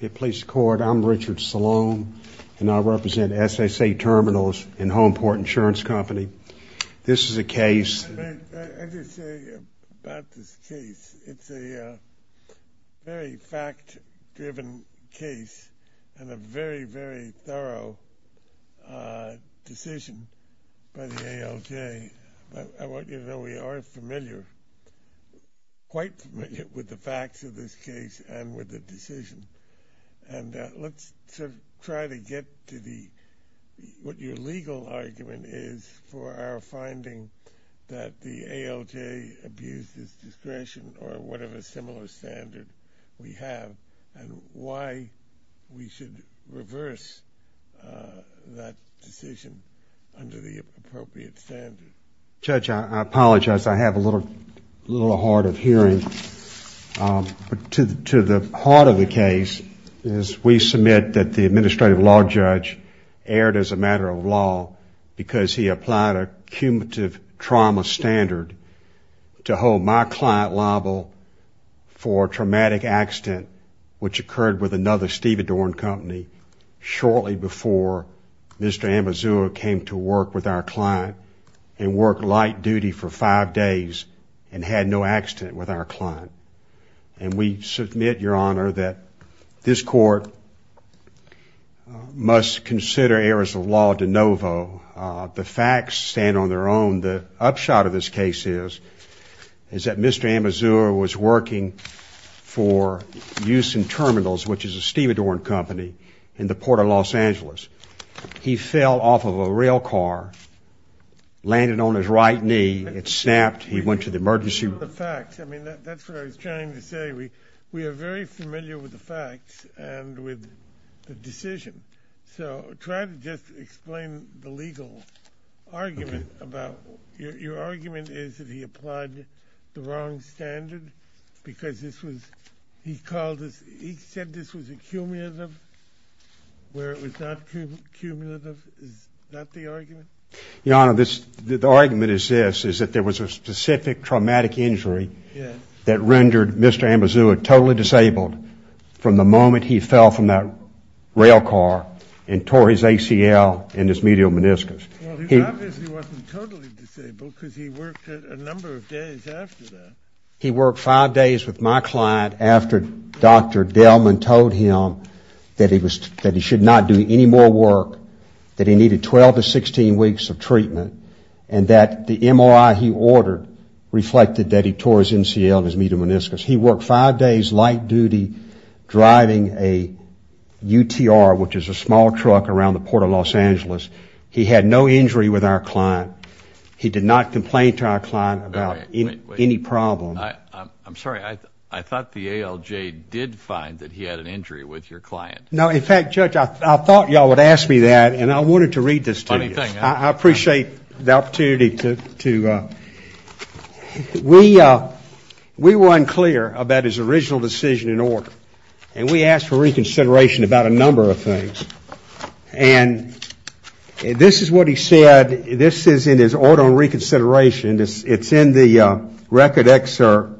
I'm Richard Salone, and I represent SSA Terminals and Homeport Insurance Company. This is a case… I just want to say about this case, it's a very fact-driven case and a very, very thorough decision by the ALJ. I want you to know we are familiar, quite familiar, with the facts of this case and with the decision, and let's try to get to what your legal argument is for our finding that the ALJ abused its discretion or whatever similar standard we have and why we should reverse that decision under the appropriate standard. Judge, I apologize, I have a little hard of hearing, but to the heart of the case is we submit that the Administrative Law Judge erred as a matter of law because he applied a cumulative trauma standard to hold my client liable for a traumatic accident which occurred with another stevedore and company shortly before Mr. Amezcua came to work with our client and worked light duty for five days and had no accident with our client. And we submit, Your Honor, that this court must consider errors of law de novo. The facts stand on their own. The upshot of this case is that Mr. Amezcua was working for use in terminals, which is a stevedore and company, in the Port of Los Angeles. He fell off of a rail car, landed on his right knee, it snapped, he went to the emergency room. I mean, that's what I was trying to say. We are very familiar with the facts and with the decision, so try to just explain the legal argument about, your argument is that he applied the wrong standard because this was, he called this, he said this was a cumulative, where it was not cumulative, is that the argument? Your Honor, the argument is this, is that there was a specific traumatic injury that rendered Mr. Amezcua totally disabled from the moment he fell from that rail car and tore his ACL and his medial meniscus. Well, he obviously wasn't totally disabled because he worked a number of days after that. He worked five days with my client after Dr. Delman told him that he should not do any more work, that he needed 12 to 16 weeks of treatment, and that the MRI he ordered reflected that he tore his ACL and his medial meniscus. He worked five days light duty driving a UTR, which is a small truck around the Port of Los Angeles. He had no injury with our client. He did not complain to our client about any problem. I'm sorry, I thought the ALJ did find that he had an injury with your client. No, in fact, Judge, I thought you all would ask me that, and I wanted to read this to you. Funny thing, huh? I appreciate the opportunity to, we were unclear about his original decision in order, and we asked for reconsideration about a number of things. And this is what he said, this is in his order of reconsideration, it's in the record excerpt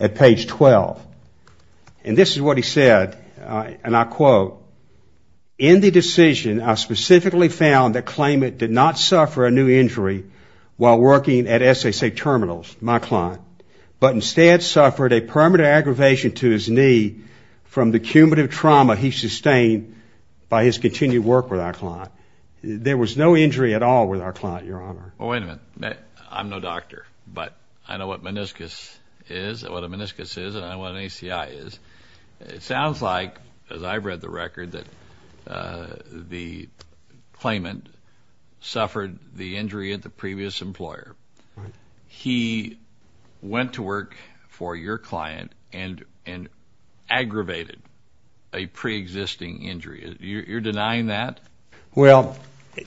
at page 12. And this is what he said, and I quote, in the decision I specifically found that Klayman did not suffer a new injury while working at SSA terminals, my client, but instead suffered a permanent aggravation to his knee from the cumulative trauma he sustained by his continued work with our client. There was no injury at all with our client, your honor. Well, wait a minute. I'm no doctor, but I know what meniscus is, what a meniscus is, and I know what an ACI is. It sounds like, as I've read the record, that Klayman suffered the injury at the previous employer. He went to work for your client and aggravated a pre-existing injury. You're denying that? Well,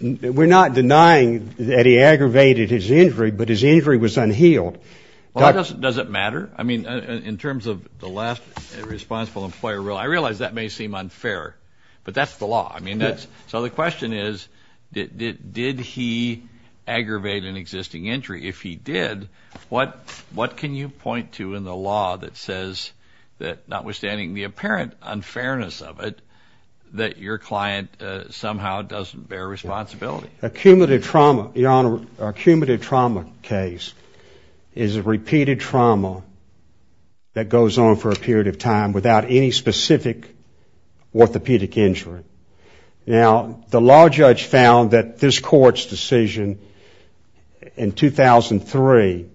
we're not denying that he aggravated his injury, but his injury was unhealed. Well, does it matter? I mean, in terms of the last responsible employer rule, I realize that may seem unfair, but that's the law. So the question is, did he aggravate an existing injury? If he did, what can you point to in the law that says that, notwithstanding the apparent unfairness of it, that your client somehow doesn't bear responsibility? Cumulative trauma, your honor, a cumulative trauma case is a repeated trauma that goes on for a period of time without any specific orthopedic injury. Now, the law judge found that this court's decision in 2003,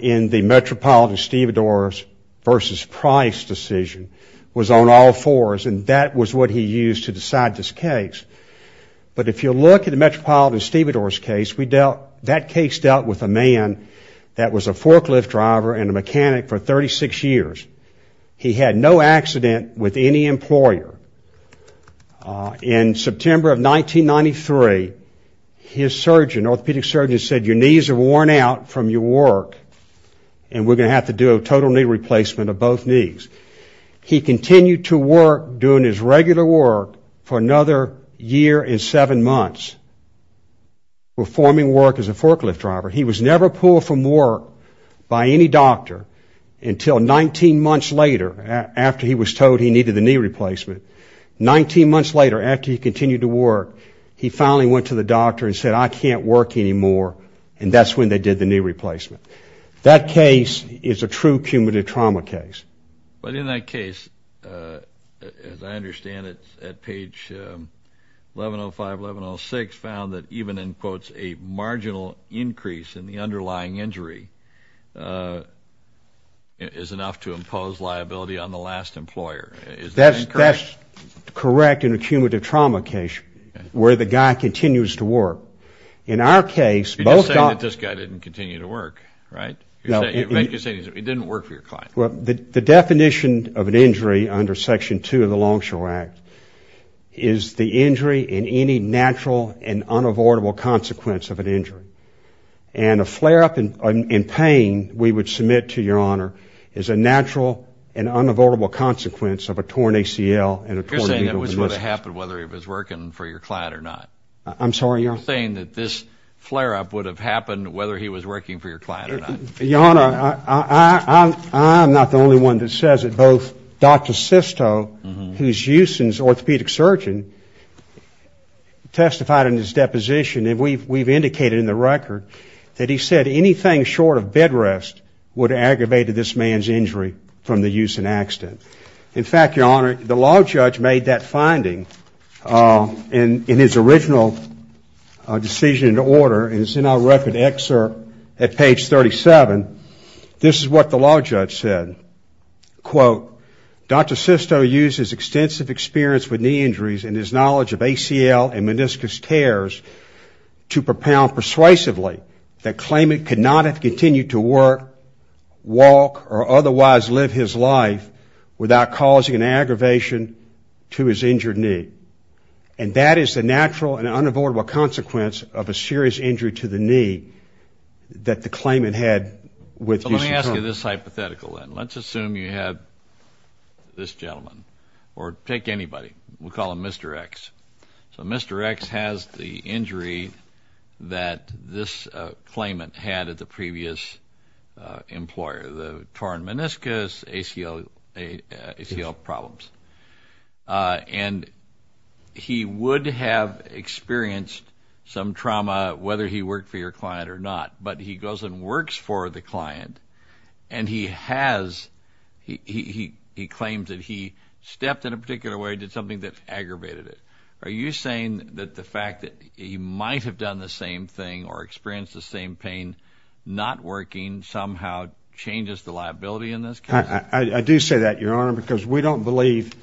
in the Metropolitan-Stevedores versus Price decision, was on all fours, and that was what he used to decide this case. But if you look at the Metropolitan-Stevedores case, that case dealt with a man that was a forklift driver and a mechanic for 36 years. He had no accident with any employer. In September of 1993, his surgeon, orthopedic surgeon, said, your knees are worn out from your work, and we're going to have to do a total knee replacement of both knees. He continued to work, doing his regular work, for another year and seven months, performing work as a forklift driver. He was never pulled from work by any doctor until 19 months later, after he was told he needed a knee replacement. 19 months later, after he continued to work, he finally went to the doctor and said, I can't work anymore, and that's when they did the knee replacement. That case is a true cumulative trauma case. But in that case, as I understand it, at page 1105, 1106, found that even in, quote, a marginal increase in the underlying injury is enough to impose liability on the last employer. Is that correct? That's correct in a cumulative trauma case, where the guy continues to work. In our case, both... You're just saying that this guy didn't continue to work, right? No. You're saying he didn't work for your client. The definition of an injury under Section 2 of the Longshore Act is the injury in any natural and unavoidable consequence of an injury. And a flare-up in pain, we would submit to Your Honor, is a natural and unavoidable consequence of a torn ACL and a torn... You're saying that was what happened, whether he was working for your client or not. I'm sorry, Your Honor? You're saying that this flare-up would have happened whether he was working for your client or not. Your Honor, I'm not the only one that says it. Both Dr. Sisto, who's Euston's orthopedic surgeon, testified in his deposition, and we've indicated in the record, that he said anything short of bed rest would have aggravated this man's injury from the Euston accident. In fact, Your Honor, the law judge made that finding in his original decision and order, and it's in our record excerpt at page 37. This is what the law judge said. Quote, Dr. Sisto used his extensive experience with knee injuries and his knowledge of ACL and meniscus tears to propound persuasively that Klayman could not have continued to work, walk, or otherwise live his life without causing an aggravation to his injured knee. And that is the natural and unavoidable consequence of a serious injury to the knee that the Klayman had with Euston Klaman. So let me ask you this hypothetical then. Let's assume you had this gentleman, or take anybody. We'll call him Mr. X. So Mr. X has the injury that this Klayman had at the previous employer, the torn meniscus, ACL problems. And he would have experienced some trauma whether he worked for your client or not, but he goes and works for the client and he has, he claims that he stepped in a particular way, did something that aggravated it. Are you saying that the fact that he might have done the same thing or experienced the same pain not working somehow changes the liability in this case? I do say that, Your Honor, because we don't believe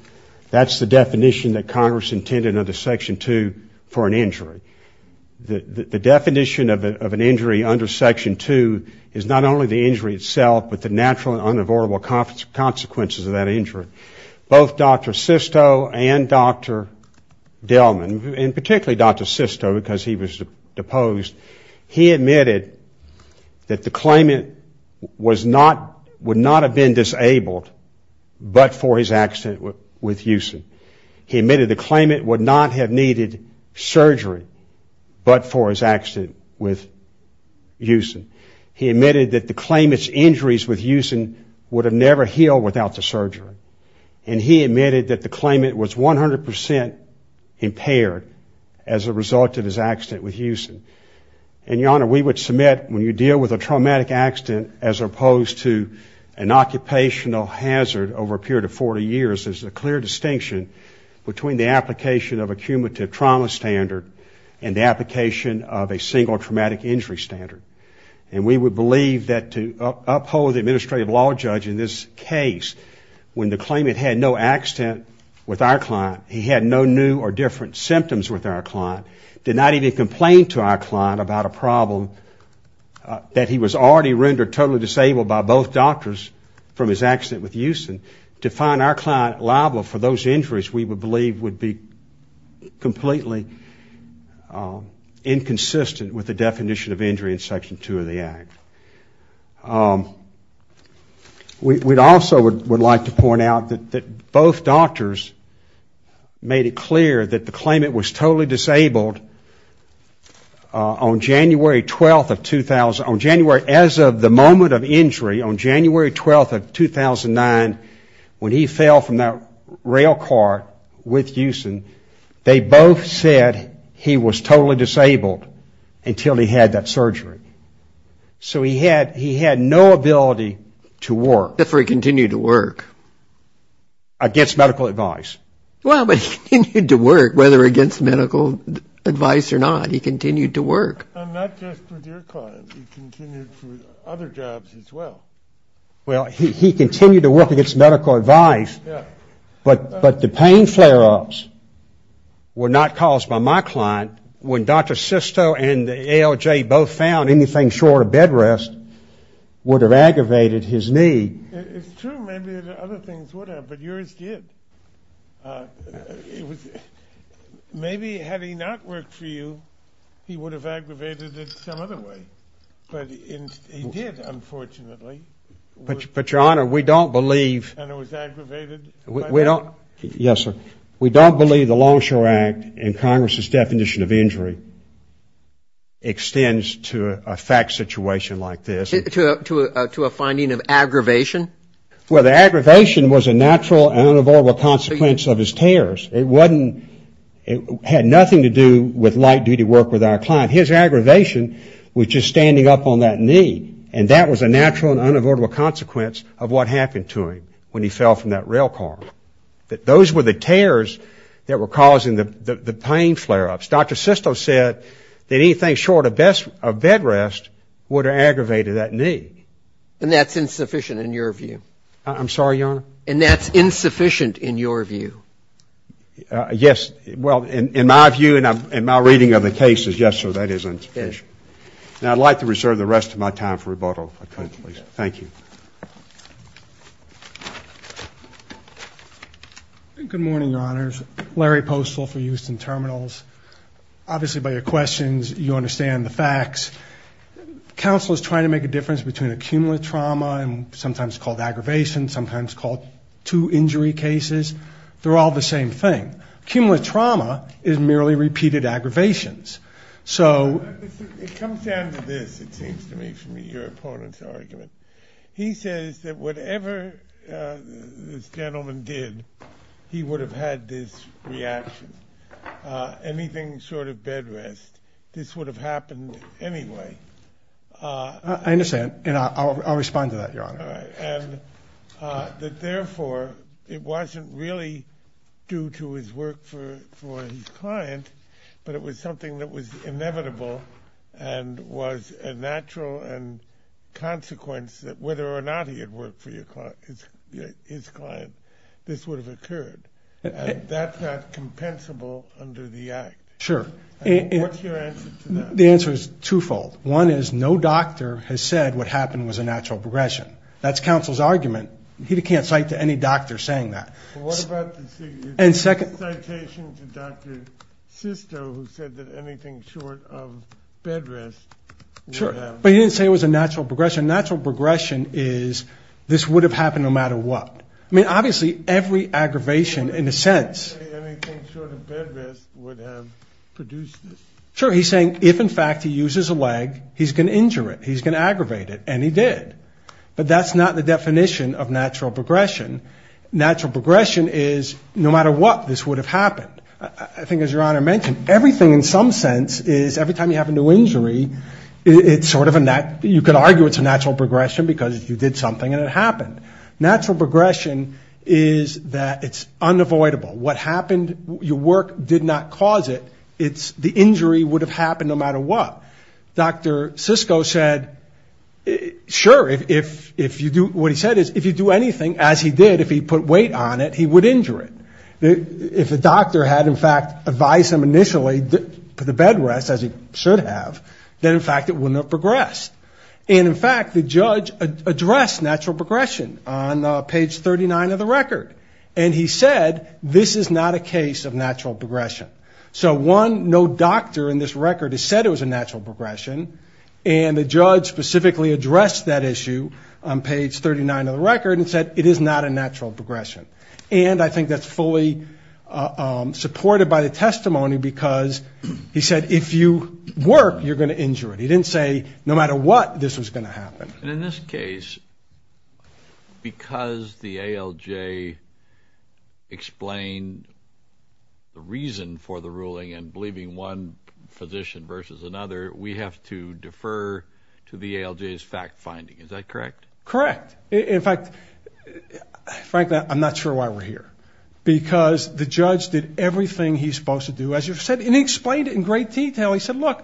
that's the definition that Congress intended under Section 2 for an injury. The definition of an injury under Section 2 is not only the injury itself, but the natural and unavoidable consequences of that injury. Both Dr. Sisto and Dr. Delman, and particularly Dr. Sisto because he was deposed, he admitted that the Klayman would not have been disabled but for his accident with Euston. He admitted the Klayman would not have needed surgery but for his accident with Euston. He admitted that the Klayman's injuries with Euston would have never healed without the surgery and he admitted that the Klayman was 100% impaired as a result of his accident with Euston. And, Your Honor, we would submit when you deal with a traumatic accident as opposed to an occupational hazard over a period of 40 years, there's a clear distinction between the application of a cumulative trauma standard and the application of a single traumatic injury standard. And we would believe that to uphold the administrative law judge in this case, when the Klayman had no accident with our client, he had no new or different symptoms with our client, did not even complain to our client about a problem that he was already rendered totally disabled by both doctors from his accident with Euston. To find our client liable for those injuries we would believe would be completely inconsistent with the definition of injury in Section 2 of the Act. We also would like to point out that both doctors made it clear that the Klayman was totally disabled on January 12th of 2000, on January, as of the moment of injury, on January 12th of 2009, when he fell from that rail car with Euston, they both said he was totally disabled until he had that surgery. So he had no ability to work. If he continued to work. Against medical advice. Well, but he continued to work, whether against medical advice or not. He continued to work. And not just with your client, he continued for other jobs as well. Well, he continued to work against medical advice, but the pain flare-ups were not caused by my client. When Dr. Sisto and the ALJ both found anything short of bed rest would have aggravated his need. It's true, maybe other things would have, but yours did. Maybe had he not worked for you, he would have aggravated it some other way. But he did, unfortunately. But Your Honor, we don't believe. And it was aggravated by the law? Yes, sir. We don't believe the Longshore Act and Congress's definition of injury extends to a fact situation like this. To a finding of aggravation? Well, the aggravation was a natural and unavoidable consequence of his tears. It wasn't, it had nothing to do with light duty work with our client. His aggravation was just standing up on that knee. And that was a natural and unavoidable consequence of what happened to him when he fell from that rail car. Those were the tears that were causing the pain flare-ups. Dr. Sisto said that anything short of bed rest would have aggravated that need. And that's insufficient in your view? I'm sorry, Your Honor? And that's insufficient in your view? Yes. Well, in my view and my reading of the case is yes, sir, that is insufficient. Now, I'd like to reserve the rest of my time for rebuttal, if I could, please. Thank you. Good morning, Your Honors. Larry Postol for Houston Terminals. Obviously by your questions, you understand the facts. Counsel is trying to make a difference between accumulative trauma and sometimes called aggravation, sometimes called two injury cases. They're all the same thing. Accumulative trauma is merely repeated aggravations. So it comes down to this, it seems to me, from your opponent's argument. He says that whatever this gentleman did, he would have had this reaction. Anything short of bed rest, this would have happened anyway. I understand, and I'll respond to that, Your Honor. And that therefore, it wasn't really due to his work for his client, but it was something that was inevitable and was a natural consequence that whether or not he had worked for his client, this would have occurred. That's not compensable under the act. Sure. What's your answer to that? The answer is twofold. One is no doctor has said what happened was a natural progression. That's counsel's argument. He can't cite to any doctor saying that. What about the citation to Dr. Sisto who said that anything short of bed rest would have... Sure. But he didn't say it was a natural progression. Natural progression is this would have happened no matter what. I mean, obviously, every aggravation in a sense... But he didn't say anything short of bed rest would have produced this. Sure. He's saying if, in fact, he uses a leg, he's going to injure it. He's going to aggravate it. And he did. But that's not the definition of natural progression. Natural progression is no matter what, this would have happened. I think, as Your Honor mentioned, everything in some sense is every time you have a new injury, it's sort of a natural... You could argue it's a natural progression because you did something and it happened. Natural progression is that it's unavoidable. What happened, your work did not cause it. It's the injury would have happened no matter what. Dr. Sisto said, sure, if you do... If he did, if he put weight on it, he would injure it. If the doctor had, in fact, advised him initially to put the bed rest, as he should have, then, in fact, it wouldn't have progressed. And, in fact, the judge addressed natural progression on page 39 of the record. And he said this is not a case of natural progression. So, one, no doctor in this record has said it was a natural progression, and the judge specifically addressed that issue on page 39 of the record and said it is not a natural progression. And I think that's fully supported by the testimony because he said if you work, you're going to injure it. He didn't say no matter what, this was going to happen. And in this case, because the ALJ explained the reason for the ruling and believing one physician versus another, we have to defer to the ALJ's fact-finding. Is that correct? Correct. In fact, frankly, I'm not sure why we're here. Because the judge did everything he's supposed to do. And he explained it in great detail. He said, look,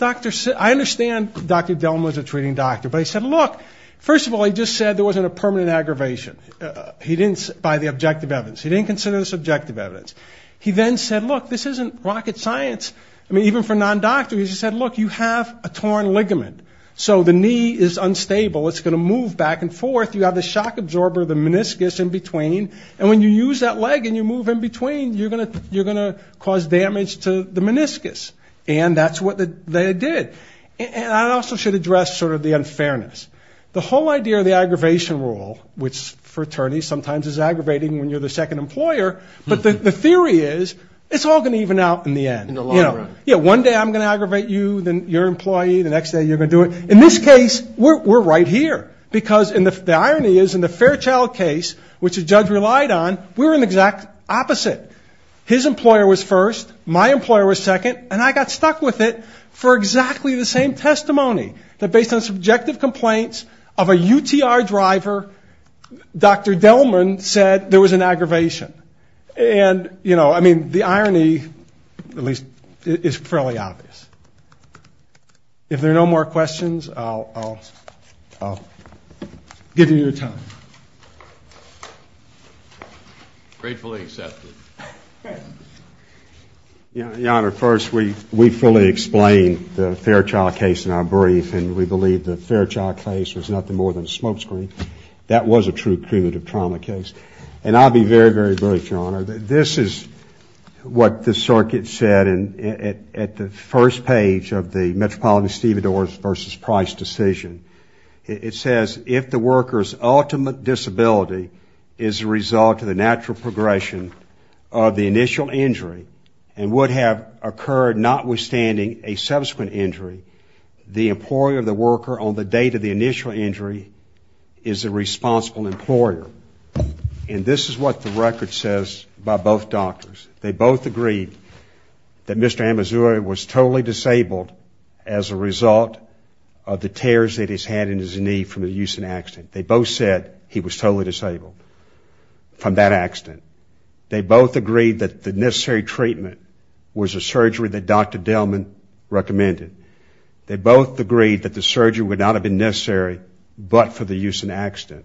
I understand Dr. Delma is a treating doctor. But he said, look, first of all, he just said there wasn't a permanent aggravation by the objective evidence. He didn't consider this objective evidence. He then said, look, this isn't rocket science. I mean, even for non-doctors, he said, look, you have a torn ligament. So the knee is unstable. It's going to move back and forth. You have the shock absorber, the meniscus in between. And when you use that leg and you move in between, you're going to cause damage to the meniscus. And that's what they did. And I also should address sort of the unfairness. The whole idea of the aggravation rule, which for attorneys sometimes is aggravating when you're the second employer, but the theory is it's all going to even out in the end. In the long run. Yeah, one day I'm going to aggravate you, then your employee, the next day you're going to do it. In this case, we're right here. Because the irony is in the Fairchild case, which the judge relied on, we were in the exact opposite. His employer was first. My employer was second. And I got stuck with it for exactly the same testimony. That based on subjective complaints of a UTR driver, Dr. Delman said there was an aggravation. And, you know, I mean, the irony, at least, is fairly obvious. If there are no more questions, I'll give you your time. Gratefully accepted. Your Honor, first, we fully explained the Fairchild case in our brief, and we believe the Fairchild case was nothing more than a smokescreen. That was a true cumulative trauma case. Your Honor, this is what the circuit said at the first page of the Metropolitan Stevedores v. Price decision. It says, if the worker's ultimate disability is a result of the natural progression of the initial injury and would have occurred notwithstanding a subsequent injury, the employer of the worker on the date of the initial injury is a responsible employer. And this is what the record says by both doctors. They both agreed that Mr. Amazuri was totally disabled as a result of the tears that he's had in his knee from the use and accident. They both said he was totally disabled from that accident. They both agreed that the necessary treatment was a surgery that Dr. Delman recommended. They both agreed that the surgery would not have been necessary but for the use and accident.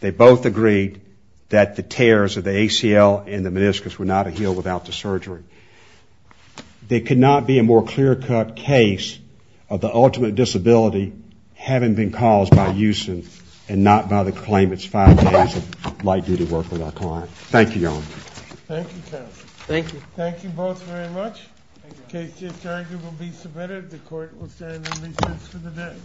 They both agreed that the tears of the ACL and the meniscus were not a heal without the surgery. There could not be a more clear-cut case of the ultimate disability having been caused by use and not by the claim it's five days of light-duty work with our client. Thank you, Your Honor. Thank you, counsel. Thank you. Thank you both very much. The case is adjourned and will be submitted. The court will stand in recess for the day.